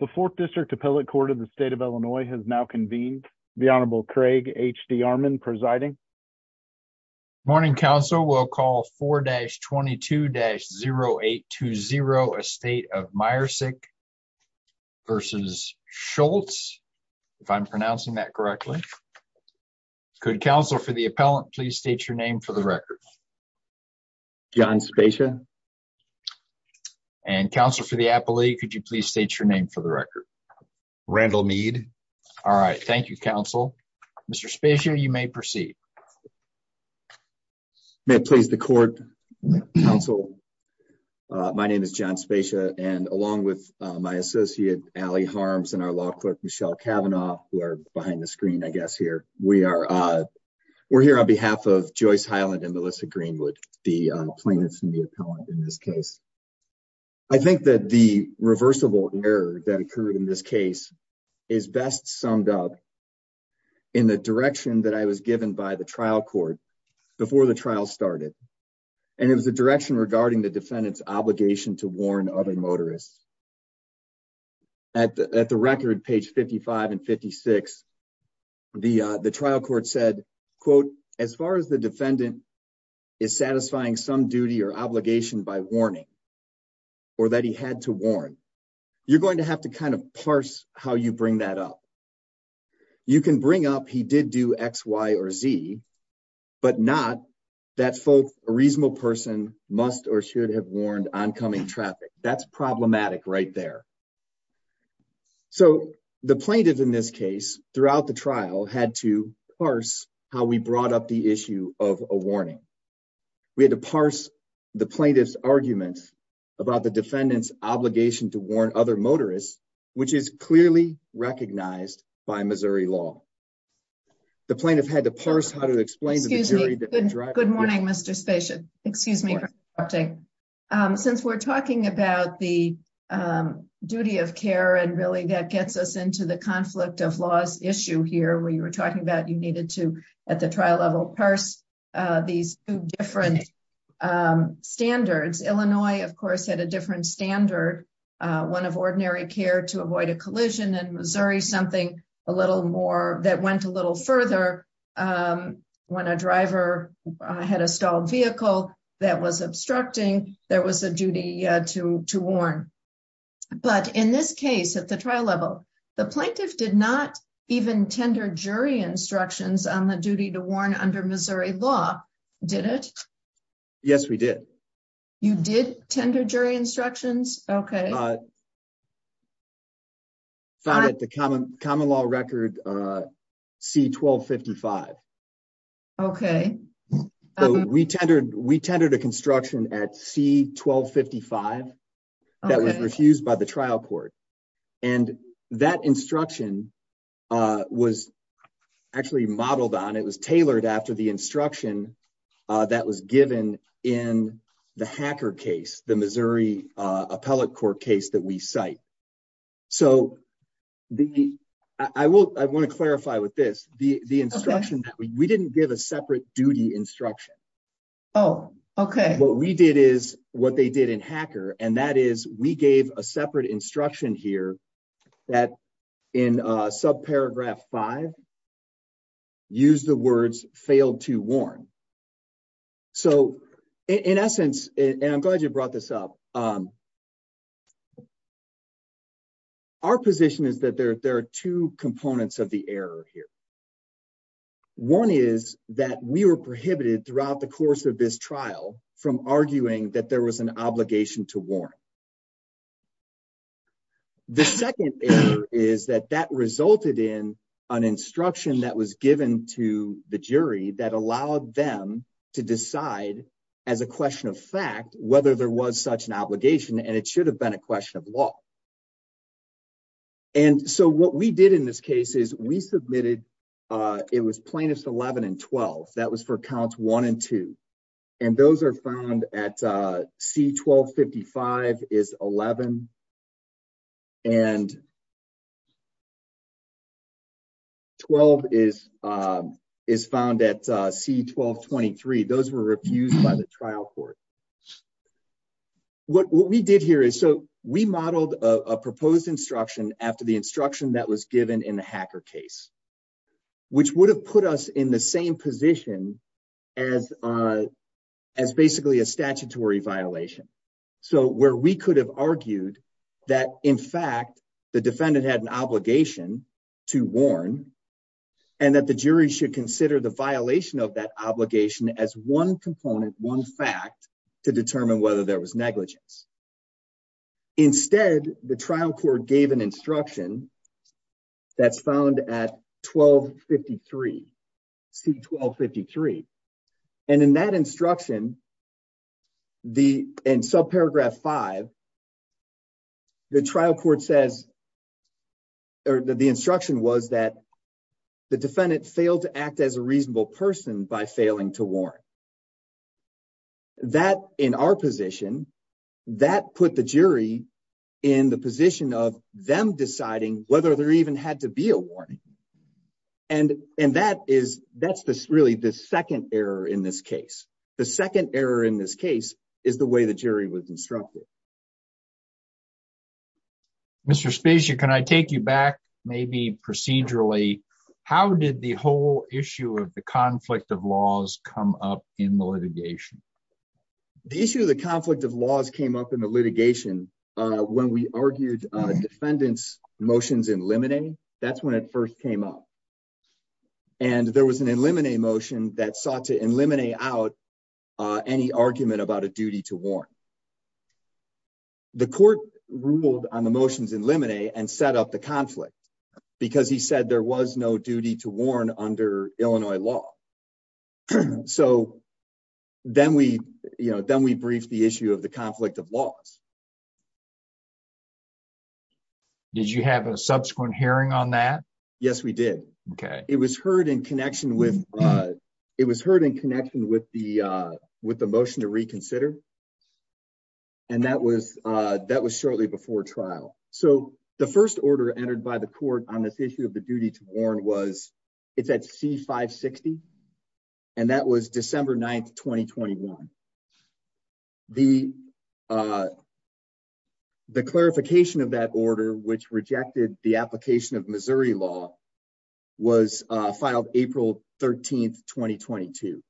The 4th District Appellate Court of the State of Illinois has now convened. The Honorable Craig H.D. Armon presiding. Morning, Counsel. We'll call 4-22-0820 Estate of Meyersick v. Schultz. If I'm pronouncing that correctly. Could Counsel for the Appellant please state your name for the record. John Spezia. And Counsel for the Appellate, could you please state your name for the record. Randall Meade. All right. Thank you, Counsel. Mr. Spezia, you may proceed. May it please the court, Counsel. My name is John Spezia and along with my associate, Allie Harms and our law clerk Michelle Cavanaugh, who are behind the screen I guess here, we are. We're here on behalf of Joyce Hyland and Melissa Greenwood, the plaintiffs and the appellant in this case. I think that the reversible error that occurred in this case is best summed up in the direction that I was given by the trial court before the trial started. And it was a direction regarding the defendant's obligation to warn other motorists. At the record, page 55 and 56, the trial court said, quote, as far as the defendant is satisfying some duty or obligation by warning or that he had to warn, you're going to have to kind of parse how you bring that up. You can bring up he did do X, Y, or Z, but not that a reasonable person must or should have warned oncoming traffic. That's problematic right there. So the plaintiff in this case throughout the trial had to parse how we brought up the issue of a warning. We had to parse the plaintiff's argument about the defendant's obligation to warn other motorists, which is clearly recognized by Missouri law. The plaintiff had to parse how to explain. Good morning, Mr. Station. Excuse me. Since we're talking about the duty of care and really that gets us into the conflict of laws issue here where you were talking about, you needed to at the trial level, parse these different standards. Illinois, of course, had a different standard, one of ordinary care to avoid a collision and Missouri something a little more that went a little further. When a driver had a stalled vehicle that was obstructing, there was a duty to warn. But in this case at the trial level, the plaintiff did not even tender jury instructions on the duty to warn under Missouri law, did it? Yes, we did. You did tender jury instructions? Okay. Found at the common law record C-1255. Okay. We tendered a construction at C-1255 that was refused by the trial court. And that instruction was actually modeled on, it was tailored after the instruction that was given in the hacker case, the Missouri appellate court case that we cite. So, I want to clarify with this, the instruction that we didn't give a separate duty instruction. Oh, okay. What we did is what they did in hacker and that is we gave a separate instruction here that in subparagraph five, use the words failed to warn. So, in essence, and I'm glad you brought this up. Our position is that there are two components of the error here. One is that we were prohibited throughout the course of this trial from arguing that there was an obligation to warn. The second is that that resulted in an instruction that was given to the jury that allowed them to decide as a question of fact, whether there was such an obligation and it should have been a question of law. And so what we did in this case is we submitted. It was plaintiffs 11 and 12 that was for counts one and two, and those are found at C 1255 is 11 and 12 is is found at C 1223 those were refused by the trial court. What we did here is so we modeled a proposed instruction after the instruction that was given in the hacker case, which would have put us in the same position as as basically a statutory violation. So where we could have argued that in fact the defendant had an obligation to warn, and that the jury should consider the violation of that obligation as one component one fact to determine whether there was negligence. Instead, the trial court gave an instruction. That's found at 1253 C 1253, and in that instruction. The in subparagraph five. The trial court says. The instruction was that the defendant failed to act as a reasonable person by failing to warn. That in our position that put the jury in the position of them deciding whether there even had to be a warning. And, and that is, that's the really the second error in this case, the second error in this case is the way the jury was instructed. Mr spaceship Can I take you back, maybe procedurally. How did the whole issue of the conflict of laws come up in the litigation. The issue of the conflict of laws came up in the litigation. When we argued defendants motions in limiting. That's when it first came up. And there was an eliminate emotion that sought to eliminate out any argument about a duty to warn. The court ruled on the motions eliminate and set up the conflict, because he said there was no duty to warn under Illinois law. So, then we, you know, then we briefed the issue of the conflict of laws. Did you have a subsequent hearing on that. Yes, we did. Okay. It was heard in connection with. It was heard in connection with the, with the motion to reconsider. And that was, that was shortly before trial. So, the first order entered by the court on this issue of the duty to warn was, it's at C 560. And that was December 9 2021. The, the clarification of that order which rejected the application of Missouri law was filed, April 13 2022.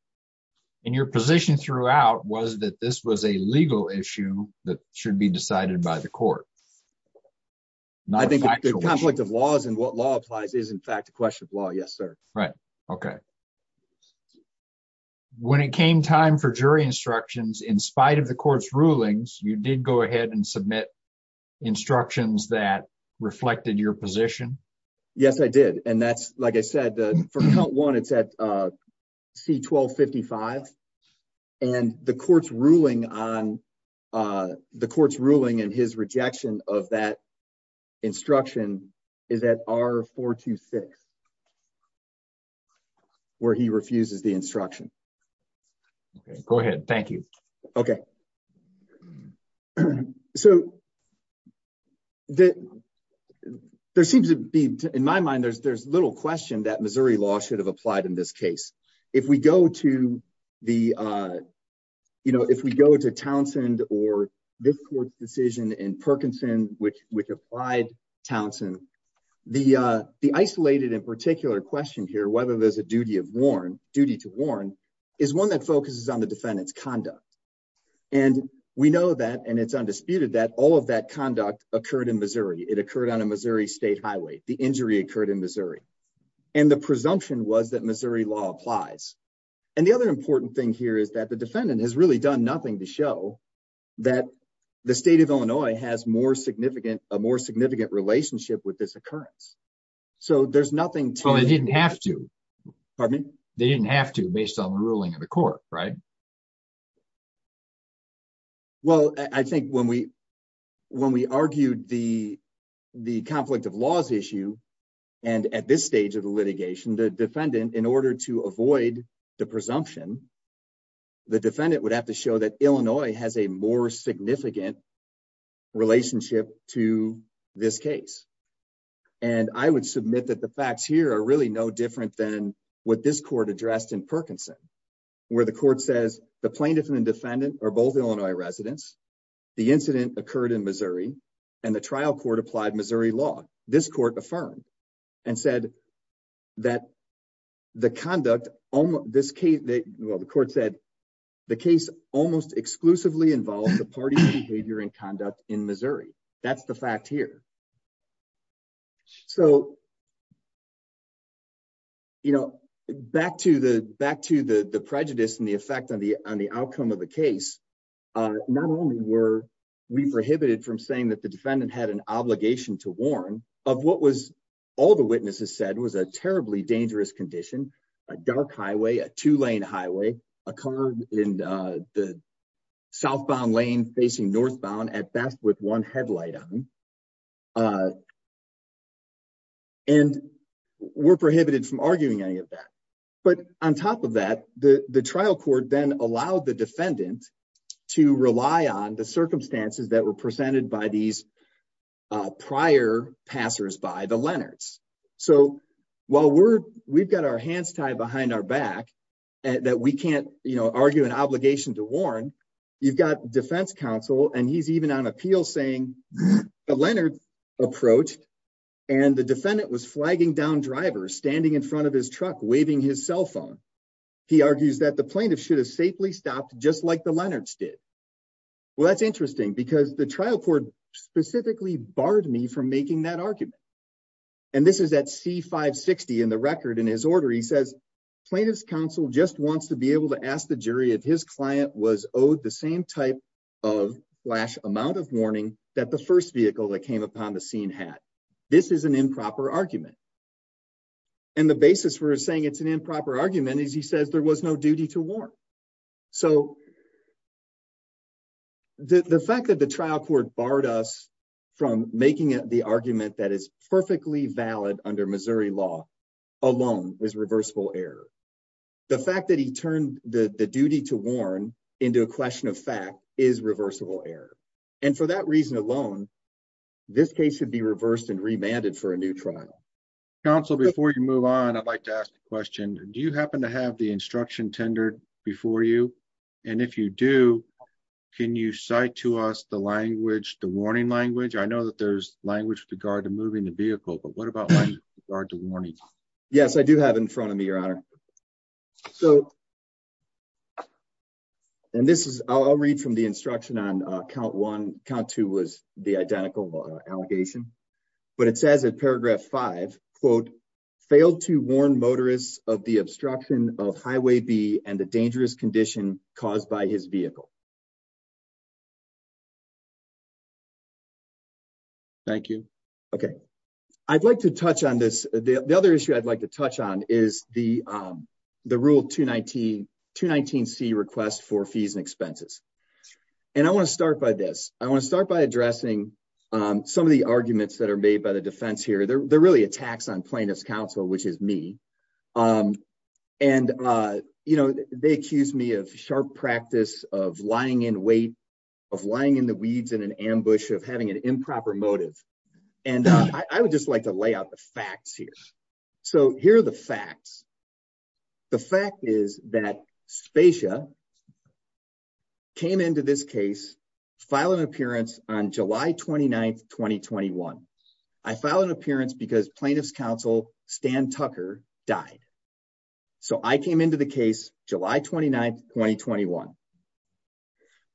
And your position throughout was that this was a legal issue that should be decided by the court. I think the conflict of laws and what law applies is in fact a question of law. Yes, sir. Right. Okay. When it came time for jury instructions in spite of the court's rulings, you did go ahead and submit instructions that reflected your position. Yes, I did. And that's, like I said, for count one it's at C 1255, and the court's ruling on the court's ruling and his rejection of that instruction is that are four to six, where he refuses the instruction. Go ahead. Thank you. Okay. So, that there seems to be, in my mind there's there's little question that Missouri law should have applied in this case, if we go to the, you know, if we go to Townsend, or this court's decision in Perkinson, which, which applied Townsend. The, the isolated in particular question here whether there's a duty of warn duty to warn is one that focuses on the defendants conduct. And we know that and it's undisputed that all of that conduct occurred in Missouri, it occurred on a Missouri State Highway, the injury occurred in Missouri. And the presumption was that Missouri law applies. And the other important thing here is that the defendant has really done nothing to show that the state of Illinois has more significant, a more significant relationship with this occurrence. So there's nothing to it didn't have to pardon me, they didn't have to based on the ruling of the court. Right. Well, I think when we, when we argued the, the conflict of laws issue. And at this stage of the litigation the defendant in order to avoid the presumption, the defendant would have to show that Illinois has a more significant relationship to this case. And I would submit that the facts here are really no different than what this court addressed in Perkinson, where the court says the plaintiff and defendant are both Illinois residents. The incident occurred in Missouri, and the trial court applied Missouri law, this court affirmed and said that the conduct on this case that the court said the case, almost exclusively involved the party behavior and conduct in Missouri. That's the fact here. So, you know, back to the back to the the prejudice and the effect on the, on the outcome of the case. Not only were we prohibited from saying that the defendant had an obligation to warn of what was all the witnesses said was a terribly dangerous condition, a dark highway a two lane highway, a car in the southbound lane facing northbound at best with one headlight on. And we're prohibited from arguing any of that. But on top of that, the, the trial court then allowed the defendant to rely on the circumstances that were presented by these prior passers by the Leonard's. So, while we're, we've got our hands tied behind our back, and that we can't, you know, argue an obligation to warn. You've got defense counsel and he's even on appeal saying Leonard approach, and the defendant was flagging down drivers standing in front of his truck waving his cell phone. He argues that the plaintiff should have safely stopped just like the Leonard's did. Well, that's interesting because the trial court specifically barred me from making that argument. And this is that see 560 in the record in his order he says plaintiffs counsel just wants to be able to ask the jury if his client was owed the same type of flash amount of warning that the first vehicle that came upon the scene had. This is an improper argument. And the basis for saying it's an improper argument is he says there was no duty to warn. So, the fact that the trial court barred us from making it the argument that is perfectly valid under Missouri law alone is reversible error. The fact that he turned the duty to warn into a question of fact is reversible error. And for that reason alone. This case should be reversed and remanded for a new trial. Council before you move on, I'd like to ask the question, do you happen to have the instruction tender before you. And if you do. Can you cite to us the language, the warning language I know that there's language to guard the moving the vehicle but what about guard the warning. Yes, I do have in front of me your honor. So, and this is, I'll read from the instruction on count one count two was the identical allegation, but it says in paragraph five, quote, failed to warn motorists of the obstruction of highway B and the dangerous condition caused by his vehicle. Thank you. Okay. I'd like to touch on this. The other issue I'd like to touch on is the, the rule to 19 to 19 see request for fees and expenses. And I want to start by this, I want to start by addressing some of the arguments that are made by the defense here they're really attacks on plaintiffs counsel which is me. And, you know, they accused me of sharp practice of lying in weight of lying in the weeds in an ambush of having an improper motive. And I would just like to lay out the facts here. So here are the facts. The fact is that spacious came into this case file an appearance on July 29 2021. I filed an appearance because plaintiffs counsel, Stan Tucker died. So I came into the case, July 29 2021.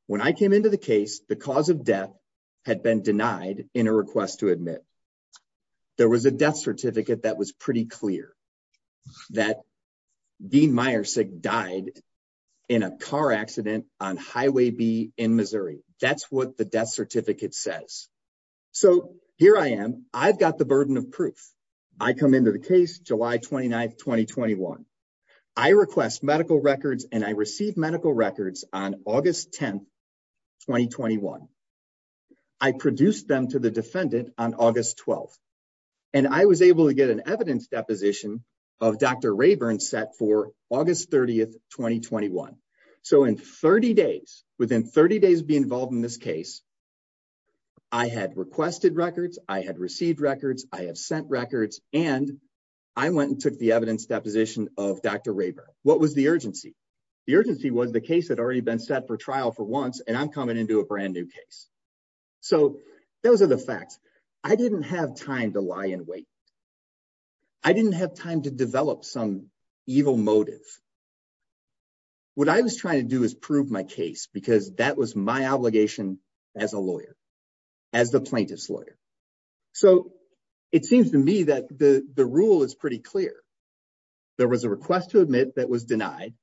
When I came into the case, the cause of death had been denied in a request to admit. There was a death certificate that was pretty clear that being Myers said died in a car accident on Highway B in Missouri, that's what the death certificate says. So, here I am, I've got the burden of proof. I come into the case, July 29 2021. I request medical records and I received medical records on August 10 2021. I produced them to the defendant on August 12, and I was able to get an evidence deposition of Dr Rayburn set for August 30 2021. So in 30 days, within 30 days be involved in this case. I had requested records, I had received records, I have sent records, and I went and took the evidence deposition of Dr Rayburn, what was the urgency. The urgency was the case had already been set for trial for once and I'm coming into a brand new case. So, those are the facts. I didn't have time to lie in wait. I didn't have time to develop some evil motive. What I was trying to do is prove my case because that was my obligation as a lawyer, as the plaintiff's lawyer. So, it seems to me that the rule is pretty clear. There was a request to admit that was denied.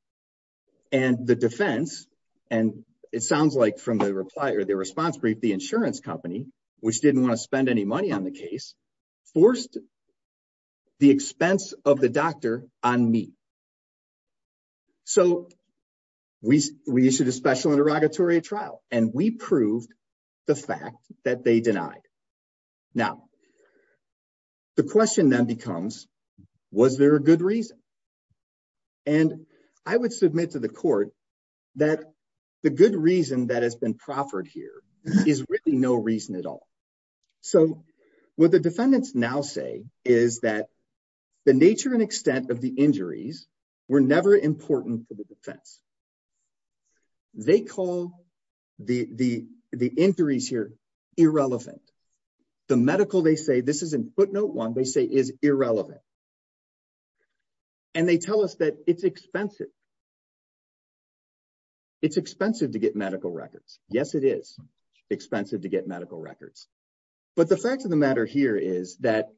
And the defense, and it sounds like from the reply or the response brief the insurance company, which didn't want to spend any money on the case forced the expense of the doctor on me. So, we, we issued a special interrogatory trial, and we proved the fact that they denied. Now, the question then becomes, was there a good reason. And I would submit to the court that the good reason that has been proffered here is really no reason at all. So, what the defendants now say is that the nature and extent of the injuries were never important to the defense. They call the injuries here irrelevant. The medical, they say, this is in footnote one, they say is irrelevant. And they tell us that it's expensive. It's expensive to get medical records. Yes, it is expensive to get medical records. But the fact of the matter here is that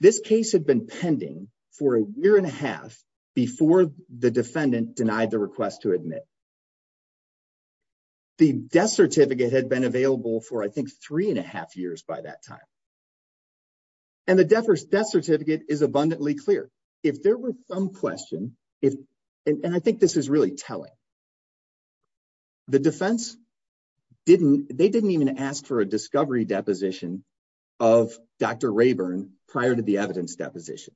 this case had been pending for a year and a half before the defendant denied the request to admit. The death certificate had been available for, I think, three and a half years by that time. And the death certificate is abundantly clear. If there were some question, and I think this is really telling, the defense didn't, they didn't even ask for a discovery deposition of Dr. Rayburn prior to the evidence deposition.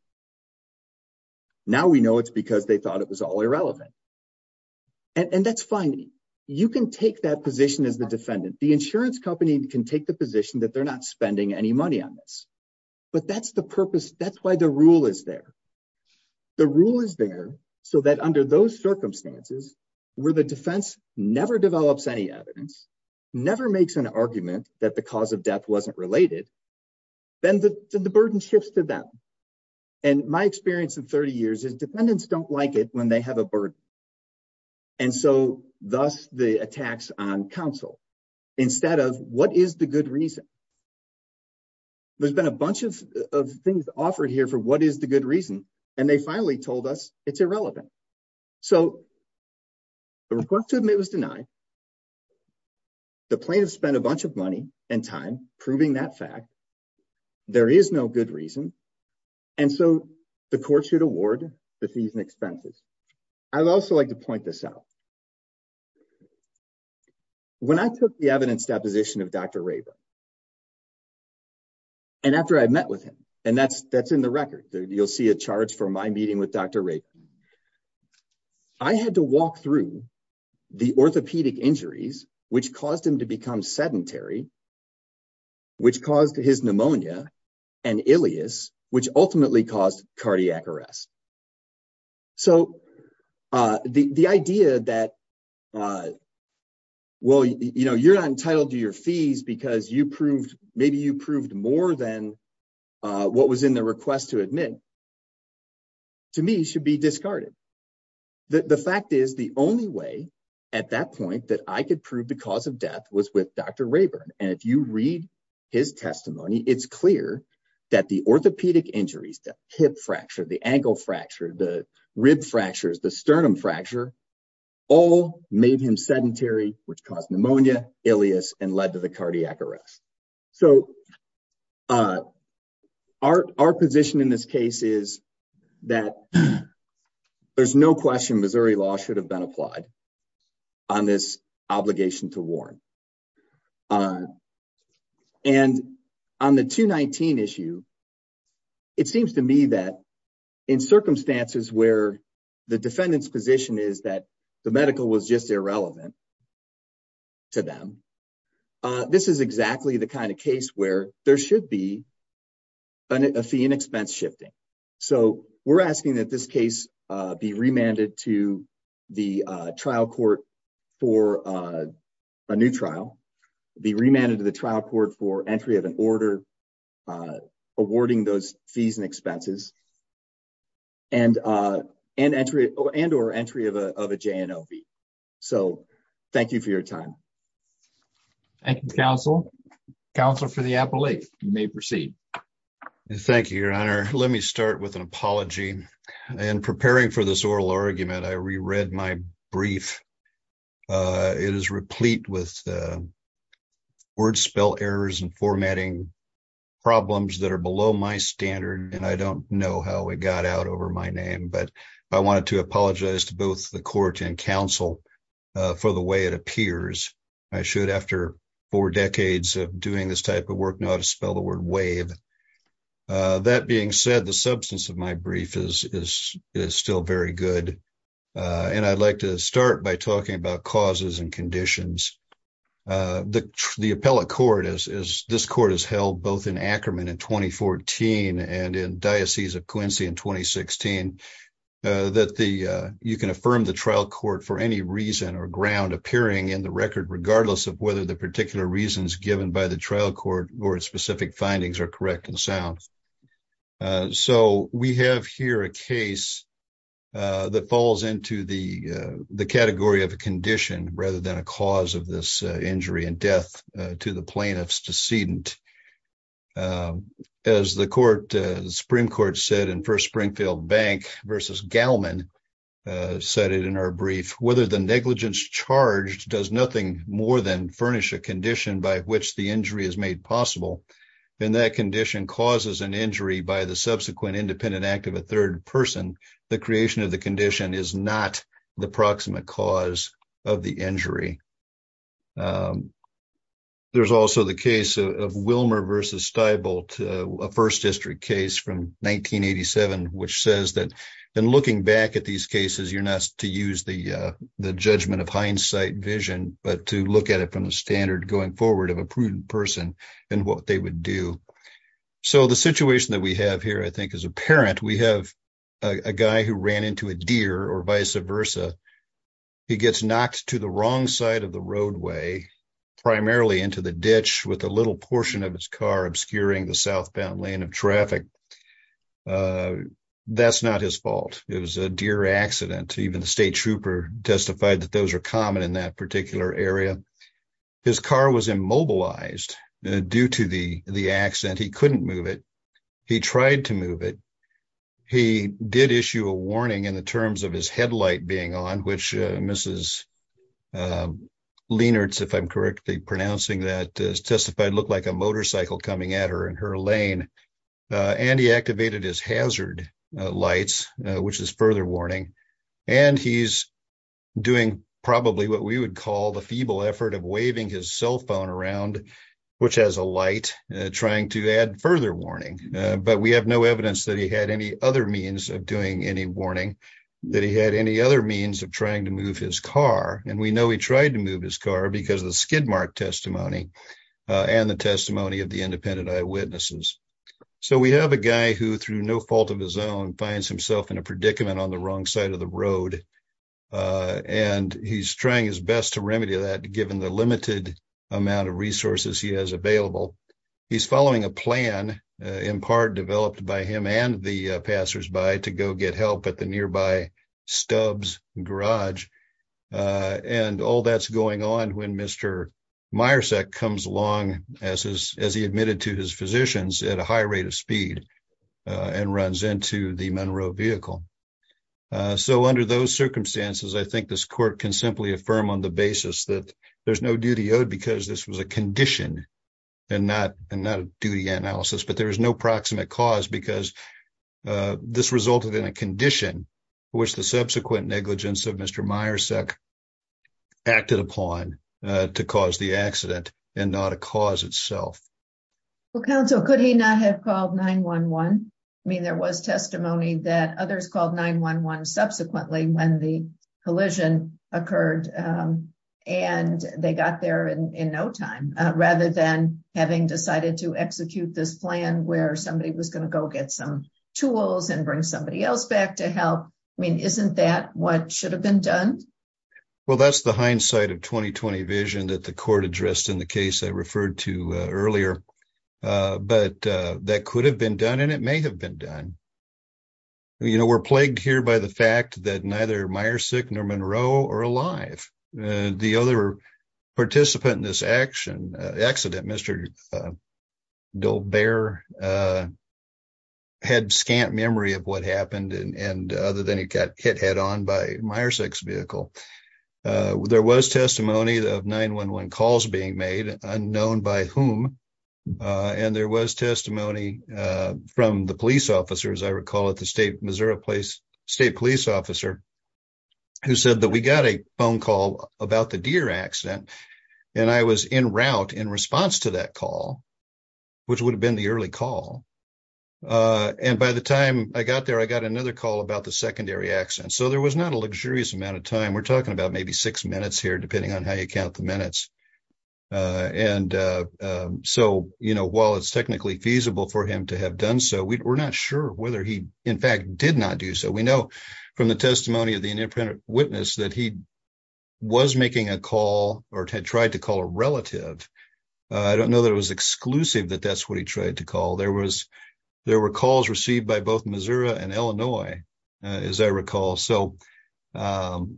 Now we know it's because they thought it was all irrelevant. And that's fine. You can take that position as the defendant. The insurance company can take the position that they're not spending any money on this. But that's the purpose. That's why the rule is there. The rule is there so that under those circumstances, where the defense never develops any evidence, never makes an argument that the cause of death wasn't related, then the burden shifts to them. And my experience in 30 years is defendants don't like it when they have a burden. And so, thus, the attacks on counsel, instead of what is the good reason. There's been a bunch of things offered here for what is the good reason, and they finally told us it's irrelevant. So, the request to admit was denied. The plaintiff spent a bunch of money and time proving that fact. There is no good reason. And so, the courts should award the fees and expenses. I'd also like to point this out. When I took the evidence deposition of Dr. Rayburn, and after I met with him, and that's in the record, you'll see a charge for my meeting with Dr. Rayburn. I had to walk through the orthopedic injuries, which caused him to become sedentary, which caused his pneumonia, and ileus, which ultimately caused cardiac arrest. So, the idea that, well, you know, you're not entitled to your fees because maybe you proved more than what was in the request to admit, to me, should be discarded. The fact is the only way at that point that I could prove the cause of death was with Dr. Rayburn. And if you read his testimony, it's clear that the orthopedic injuries, the hip fracture, the ankle fracture, the rib fractures, the sternum fracture, all made him sedentary, which caused pneumonia, ileus, and led to the cardiac arrest. So, our position in this case is that there's no question Missouri law should have been applied on this obligation to warn. And on the 219 issue, it seems to me that in circumstances where the defendant's position is that the medical was just irrelevant to them, this is exactly the kind of case where there should be a fee and expense shifting. So, we're asking that this case be remanded to the trial court for a new trial, be remanded to the trial court for entry of an order awarding those fees and expenses, and or entry of a J&O fee. So, thank you for your time. Thank you, counsel. Counsel for the appellate, you may proceed. Thank you, your honor. Let me start with an apology. In preparing for this oral argument, I reread my brief. It is replete with word spell errors and formatting problems that are below my standard, and I don't know how it got out over my name. But I wanted to apologize to both the court and counsel for the way it appears. I should, after four decades of doing this type of work, know how to spell the word wave. That being said, the substance of my brief is still very good, and I'd like to start by talking about causes and conditions. The appellate court, as this court has held both in Ackerman in 2014 and in Diocese of Quincy in 2016, that you can affirm the trial court for any reason or ground appearing in the record, regardless of whether the particular reasons given by the trial court or its specific findings are correct and sound. So we have here a case that falls into the category of a condition rather than a cause of this injury and death to the plaintiff's decedent. As the Supreme Court said in First Springfield Bank versus Gallman said it in our brief, whether the negligence charged does nothing more than furnish a condition by which the injury is made possible, then that condition causes an injury by the subsequent independent act of a third person. The creation of the condition is not the proximate cause of the injury. There's also the case of Wilmer versus Steibolt, a First District case from 1987, which says that in looking back at these cases, you're not to use the judgment of hindsight vision, but to look at it from the standard going forward of a prudent person and what they would do. So the situation that we have here, I think, is apparent. We have a guy who ran into a deer or vice versa. He gets knocked to the wrong side of the roadway, primarily into the ditch with a little portion of his car obscuring the southbound lane of traffic. That's not his fault. It was a deer accident. Even the state trooper testified that those are common in that particular area. His car was immobilized due to the accident. He couldn't move it. He tried to move it. He did issue a warning in the terms of his headlight being on, which Mrs. Lienertz, if I'm correctly pronouncing that, testified looked like a motorcycle coming at her in her lane, and he activated his hazard lights, which is further warning. And he's doing probably what we would call the feeble effort of waving his cell phone around, which has a light, trying to add further warning. But we have no evidence that he had any other means of doing any warning, that he had any other means of trying to move his car. And we know he tried to move his car because of the skid mark testimony and the testimony of the independent eyewitnesses. So we have a guy who, through no fault of his own, finds himself in a predicament on the wrong side of the road. And he's trying his best to remedy that, given the limited amount of resources he has available. He's following a plan in part developed by him and the passersby to go get help at the nearby Stubbs garage. And all that's going on when Mr. Myers comes along as he admitted to his physicians at a high rate of speed and runs into the Monroe vehicle. So, under those circumstances, I think this court can simply affirm on the basis that there's no duty owed because this was a condition and not a duty analysis, but there is no proximate cause because this resulted in a condition, which the subsequent negligence of Mr. Myers acted upon to cause the accident and not a cause itself. Well, counsel, could he not have called 9-1-1? I mean, there was testimony that others called 9-1-1 subsequently when the collision occurred and they got there in no time, rather than having decided to execute this plan where somebody was going to go get some tools and bring somebody else back to help. I mean, isn't that what should have been done? Well, that's the hindsight of 2020 vision that the court addressed in the case I referred to earlier, but that could have been done and it may have been done. You know, we're plagued here by the fact that neither Meyersick nor Monroe are alive. The other participant in this accident, Mr. Dolbear, had scant memory of what happened and other than he got hit head on by Meyersick's vehicle. There was testimony of 9-1-1 calls being made, unknown by whom, and there was testimony from the police officer, as I recall, at the state police officer, who said that we got a phone call about the deer accident and I was en route in response to that call, which would have been the early call. And by the time I got there, I got another call about the secondary accident. So there was not a luxurious amount of time. We're talking about maybe six minutes here, depending on how you count the minutes. And so, you know, while it's technically feasible for him to have done so, we're not sure whether he, in fact, did not do so. We know from the testimony of the independent witness that he was making a call or had tried to call a relative. I don't know that it was exclusive that that's what he tried to call. There were calls received by both Missouri and Illinois, as I recall. So I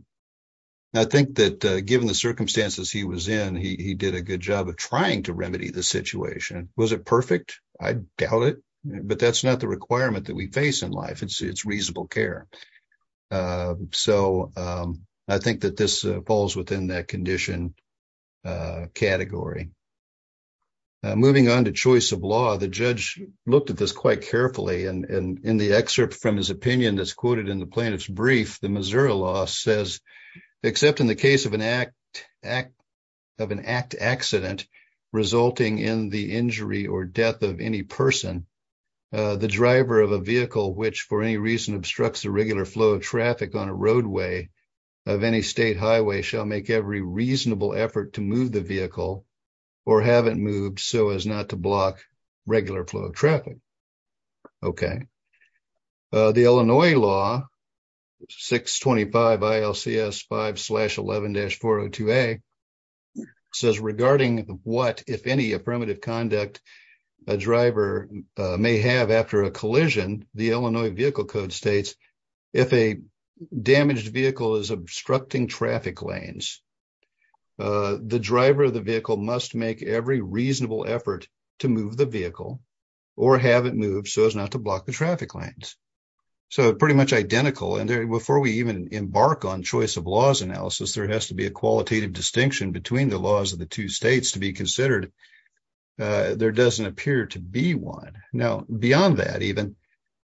think that given the circumstances he was in, he did a good job of trying to remedy the situation. Was it perfect? I doubt it. But that's not the requirement that we face in life. It's reasonable care. So I think that this falls within that condition category. Moving on to choice of law, the judge looked at this quite carefully and in the excerpt from his opinion that's quoted in the plaintiff's brief, the Missouri law says, except in the case of an act of an act accident, resulting in the injury or death of any person. The driver of a vehicle, which for any reason obstructs the regular flow of traffic on a roadway of any state highway shall make every reasonable effort to move the vehicle or haven't moved so as not to block regular flow of traffic. Okay, the Illinois law 625 ILCS 5 slash 11 dash 402A says regarding what, if any, a primitive conduct a driver may have after a collision, the Illinois vehicle code states, if a damaged vehicle is obstructing traffic lanes, the driver of the vehicle must make every reasonable effort to move the vehicle or haven't moved so as not to block the traffic lanes. So pretty much identical. And before we even embark on choice of laws analysis, there has to be a qualitative distinction between the laws of the two states to be considered. There doesn't appear to be one. Now, beyond that, even,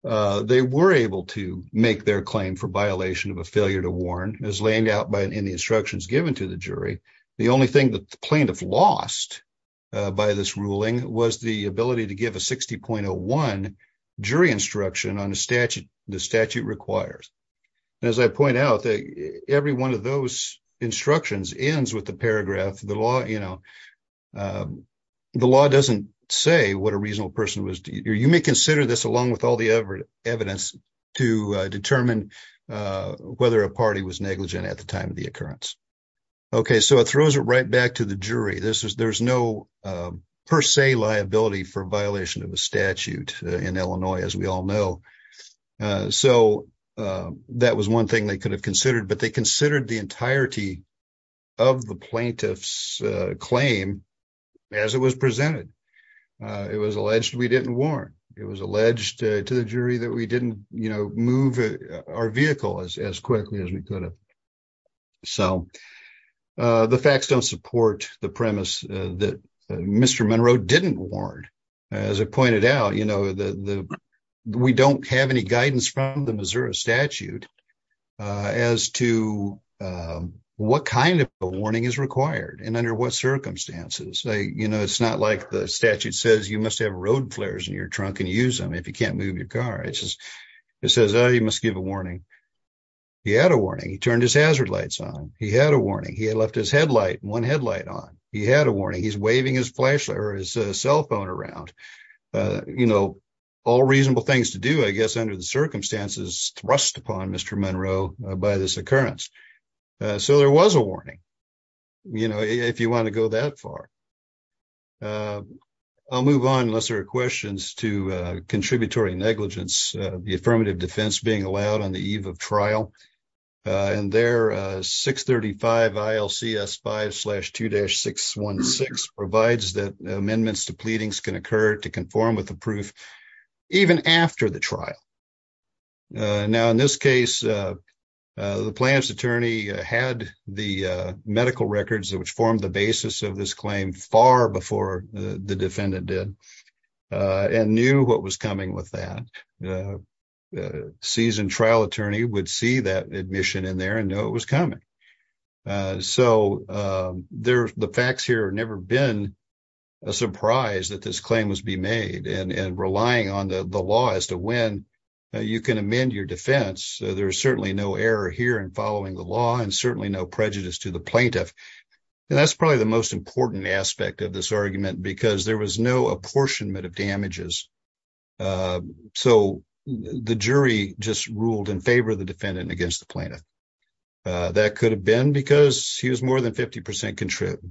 they were able to make their claim for violation of a failure to warn as laying out in the instructions given to the jury. The only thing that the plaintiff lost by this ruling was the ability to give a 60.01 jury instruction on the statute the statute requires. As I point out that every one of those instructions ends with the paragraph, the law, you know, the law doesn't say what a reasonable person was. You may consider this along with all the other evidence to determine whether a party was negligent at the time of the occurrence. Okay, so it throws it right back to the jury. This is there's no per se liability for violation of a statute in Illinois, as we all know. So, that was one thing they could have considered, but they considered the entirety of the plaintiff's claim as it was presented. It was alleged we didn't warn. It was alleged to the jury that we didn't move our vehicle as quickly as we could have. So, the facts don't support the premise that Mr. Monroe didn't warn. As I pointed out, you know, we don't have any guidance from the Missouri statute as to what kind of a warning is required and under what circumstances. You know, it's not like the statute says you must have road flares in your trunk and use them if you can't move your car. It says you must give a warning. He had a warning. He turned his hazard lights on. He had a warning. He had left his headlight, one headlight on. He had a warning. He's waving his flashlight or his cell phone around. You know, all reasonable things to do, I guess, under the circumstances thrust upon Mr. Monroe by this occurrence. So, there was a warning, you know, if you want to go that far. I'll move on, unless there are questions, to contributory negligence, the affirmative defense being allowed on the eve of trial. And there, 635 ILCS 5-2-616 provides that amendments to pleadings can occur to conform with the proof even after the trial. Now, in this case, the plaintiff's attorney had the medical records, which formed the basis of this claim far before the defendant did, and knew what was coming with that. A seasoned trial attorney would see that admission in there and know it was coming. So, the facts here have never been a surprise that this claim was being made and relying on the law as to when you can amend your defense. There's certainly no error here in following the law and certainly no prejudice to the plaintiff. And that's probably the most important aspect of this argument because there was no apportionment of damages. So, the jury just ruled in favor of the defendant and against the plaintiff. That could have been because he was more than 50% contrived.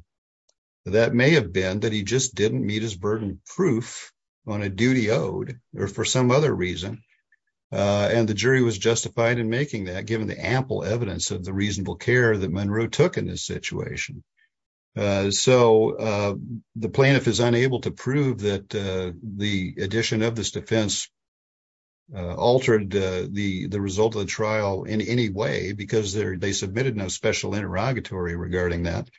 That may have been that he just didn't meet his burden of proof on a duty owed or for some other reason. And the jury was justified in making that given the ample evidence of the reasonable care that Monroe took in this situation. So, the plaintiff is unable to prove that the addition of this defense altered the result of the trial in any way because they submitted no special interrogatory regarding that.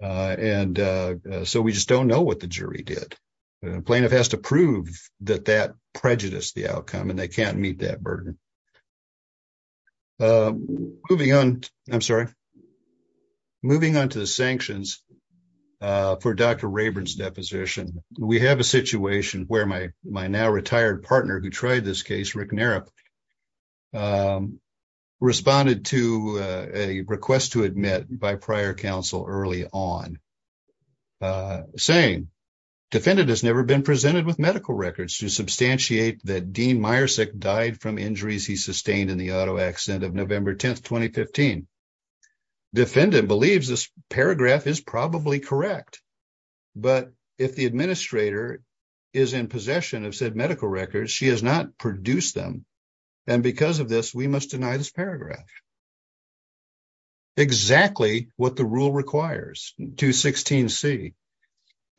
And so, we just don't know what the jury did. The plaintiff has to prove that that prejudiced the outcome and they can't meet that burden. Moving on, I'm sorry. Moving on to the sanctions for Dr. Rayburn's deposition. We have a situation where my now retired partner who tried this case, Rick Narep, responded to a request to admit by prior counsel early on. Saying, defendant has never been presented with medical records to substantiate that Dean Myersick died from injuries he sustained in the auto accident of November 10, 2015. Defendant believes this paragraph is probably correct. But if the administrator is in possession of said medical records, she has not produced them. And because of this, we must deny this paragraph. Exactly what the rule requires, 216C.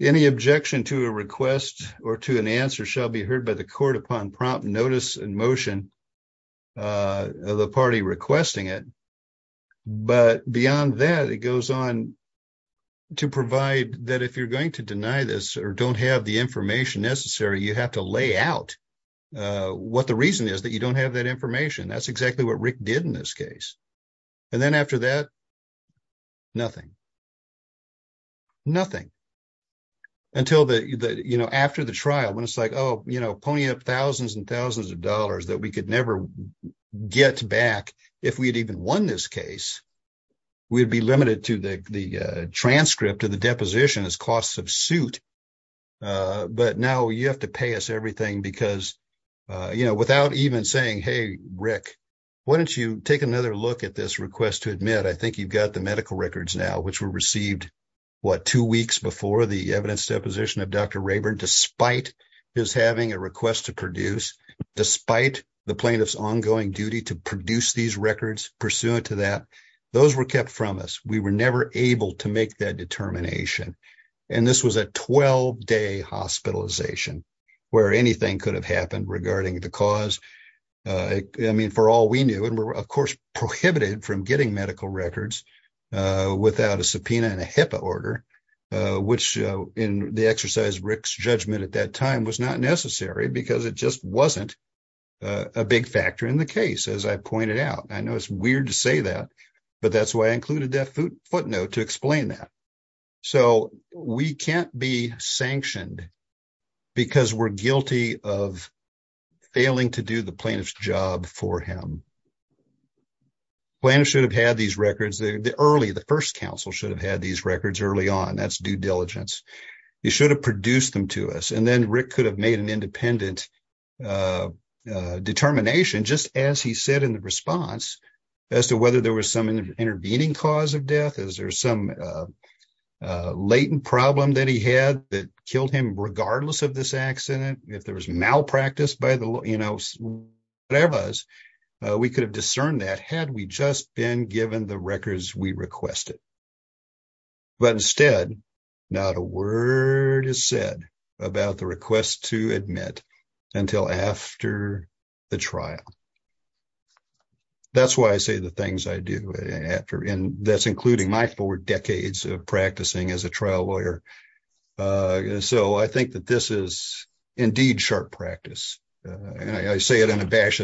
Any objection to a request or to an answer shall be heard by the court upon prompt notice and motion of the party requesting it. But beyond that, it goes on to provide that if you're going to deny this or don't have the information necessary, you have to lay out what the reason is that you don't have that information. That's exactly what Rick did in this case. And then after that, nothing. Nothing. Until the, you know, after the trial when it's like, oh, you know, pony up thousands and thousands of dollars that we could never get back if we'd even won this case. We'd be limited to the transcript of the deposition as costs of suit. But now you have to pay us everything because, you know, without even saying, hey, Rick, why don't you take another look at this request to admit? I think you've got the medical records now, which were received, what, two weeks before the evidence deposition of Dr. Rayburn, despite his having a request to produce, despite the plaintiff's ongoing duty to produce these records pursuant to that. Those were kept from us. We were never able to make that determination. And this was a 12-day hospitalization where anything could have happened regarding the cause. I mean, for all we knew, and we were, of course, prohibited from getting medical records without a subpoena and a HIPAA order, which in the exercise Rick's judgment at that time was not necessary because it just wasn't a big factor in the case, as I pointed out. I know it's weird to say that, but that's why I included that footnote to explain that. So we can't be sanctioned because we're guilty of failing to do the plaintiff's job for him. The plaintiff should have had these records early. The first counsel should have had these records early on. That's due diligence. He should have produced them to us. And then Rick could have made an independent determination just as he said in the response as to whether there was some intervening cause of death. Is there some latent problem that he had that killed him regardless of this accident? If there was malpractice by the, you know, whatever it was, we could have discerned that had we just been given the records we requested. But instead, not a word is said about the request to admit until after the trial. That's why I say the things I do after, and that's including my four decades of practicing as a trial lawyer. So I think that this is indeed sharp practice. And I say it in a bash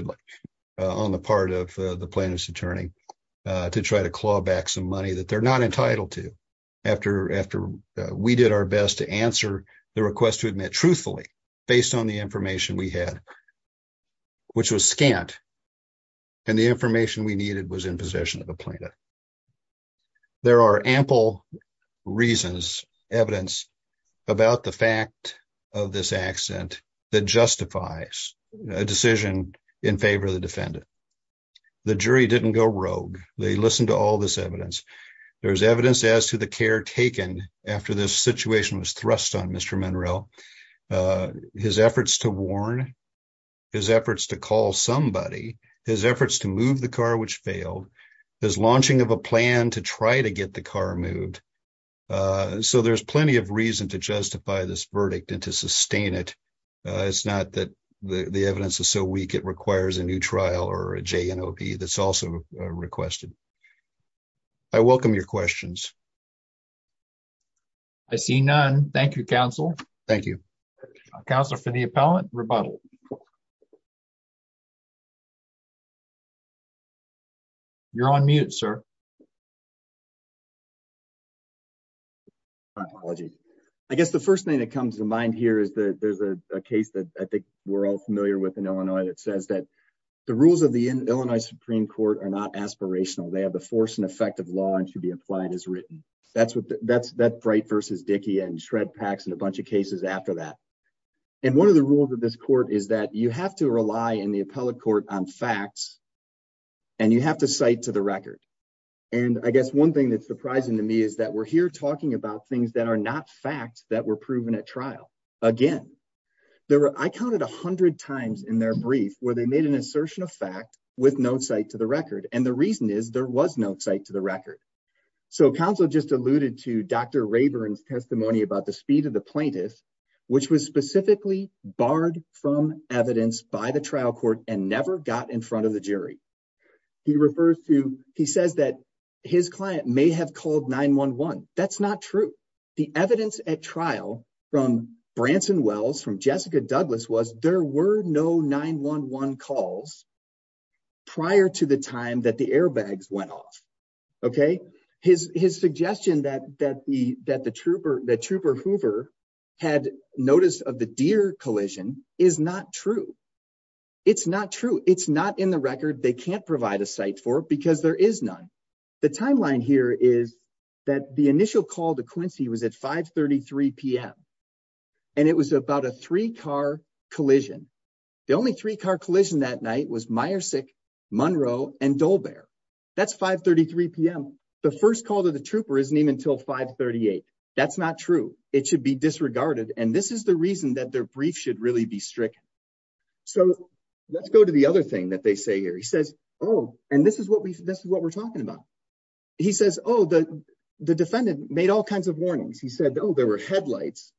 on the part of the plaintiff's attorney to try to claw back some money that they're not entitled to after we did our best to answer the request to admit truthfully based on the information we had, which was scant. And the information we needed was in possession of the plaintiff. There are ample reasons, evidence about the fact of this accident that justifies a decision in favor of the defendant. The jury didn't go rogue. They listened to all this evidence. There's evidence as to the care taken after this situation was thrust on Mr. Monroe. His efforts to warn, his efforts to call somebody, his efforts to move the car which failed, his launching of a plan to try to get the car moved. So there's plenty of reason to justify this verdict and to sustain it. It's not that the evidence is so weak it requires a new trial or a JNOP that's also requested. I welcome your questions. I see none. Thank you, Counsel. Thank you. Counselor for the appellant, rebuttal. You're on mute, sir. I guess the first thing that comes to mind here is that there's a case that I think we're all familiar with in Illinois that says that the rules of the Illinois Supreme Court are not aspirational. They have the force and effect of law and should be applied as written. That's what that's that bright versus Dickey and shred packs and a bunch of cases after that. And one of the rules of this court is that you have to rely in the appellate court on facts and you have to cite to the record. And I guess one thing that's surprising to me is that we're here talking about things that are not facts that were proven at trial again. I counted 100 times in their brief where they made an assertion of fact with no site to the record. And the reason is there was no site to the record. So counsel just alluded to Dr. Rayburn's testimony about the speed of the plaintiff, which was specifically barred from evidence by the trial court and never got in front of the jury. He refers to he says that his client may have called 911. That's not true. The evidence at trial from Branson Wells from Jessica Douglas was there were no 911 calls prior to the time that the airbags went off. OK, his his suggestion that that the that the trooper the trooper Hoover had noticed of the deer collision is not true. It's not true. It's not in the record. They can't provide a site for it because there is none. The timeline here is that the initial call to Quincy was at 533 p.m. and it was about a three car collision. The only three car collision that night was Meyersick, Monroe and Dolbear. That's 533 p.m. The first call to the trooper isn't even till 538. That's not true. It should be disregarded. And this is the reason that their brief should really be strict. So let's go to the other thing that they say here. He says, oh, and this is what we this is what we're talking about. He says, oh, the defendant made all kinds of warnings. He said, oh, there were headlights.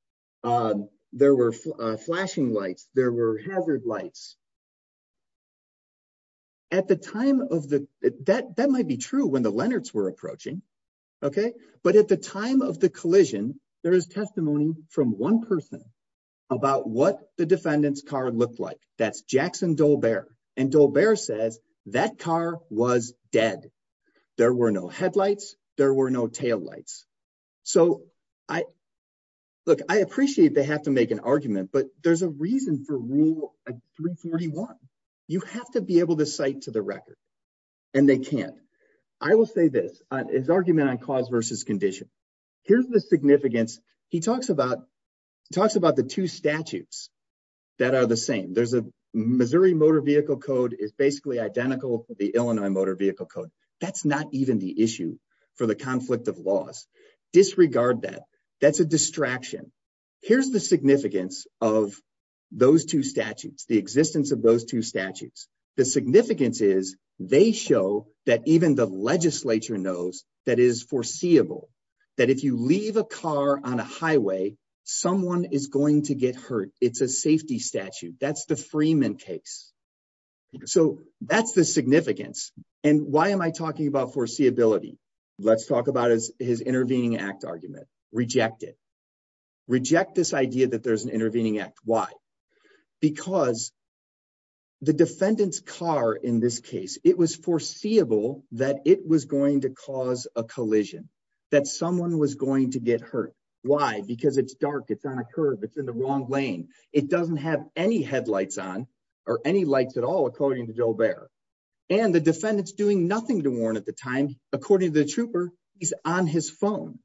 There were flashing lights. There were hazard lights. At the time of the that that might be true when the Leonards were approaching. OK, but at the time of the collision, there is testimony from one person about what the defendant's car looked like. That's Jackson Dolbear. And Dolbear says that car was dead. There were no headlights. There were no taillights. So I look, I appreciate they have to make an argument, but there's a reason for rule 341. You have to be able to cite to the record and they can't. I will say this is argument on cause versus condition. Here's the significance. He talks about talks about the two statutes that are the same. There's a Missouri motor vehicle code is basically identical to the Illinois motor vehicle code. That's not even the issue for the conflict of laws. Disregard that. That's a distraction. Here's the significance of those two statutes, the existence of those two statutes. The significance is they show that even the legislature knows that is foreseeable, that if you leave a car on a highway, someone is going to get hurt. It's a safety statute. That's the Freeman case. So that's the significance. And why am I talking about foreseeability? Let's talk about his intervening act argument. Reject it. Reject this idea that there's an intervening act. Why? Because the defendant's car in this case, it was foreseeable that it was going to cause a collision, that someone was going to get hurt. Why? Because it's dark. It's on a curve. It's in the wrong lane. It doesn't have any headlights on or any lights at all, according to Joe Bair. And the defendant's doing nothing to warn at the time. According to the trooper, he's on his phone.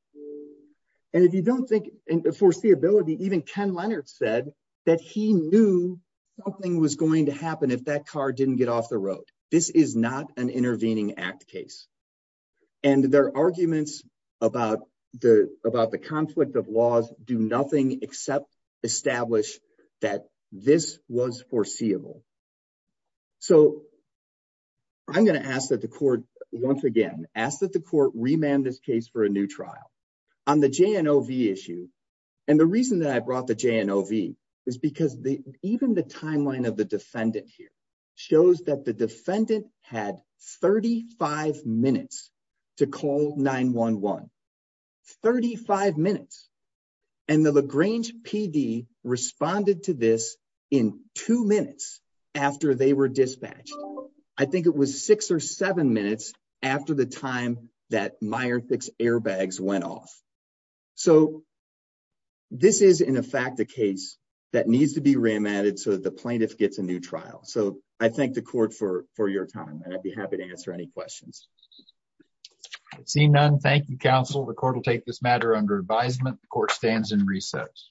And if you don't think foreseeability, even Ken Leonard said that he knew something was going to happen if that car didn't get off the road. This is not an intervening act case. And their arguments about the about the conflict of laws do nothing except establish that this was foreseeable. So. I'm going to ask that the court once again ask that the court remand this case for a new trial on the J.N.O.V. issue. And the reason that I brought the J.N.O.V. is because even the timeline of the defendant here shows that the defendant had thirty five minutes to call 9-1-1. Thirty five minutes. And the LaGrange PD responded to this in two minutes after they were dispatched. I think it was six or seven minutes after the time that Meyerthix airbags went off. So. This is, in fact, the case that needs to be remanded so that the plaintiff gets a new trial. So I thank the court for for your time and I'd be happy to answer any questions. Seeing none. Thank you, counsel. The court will take this matter under advisement. The court stands in recess.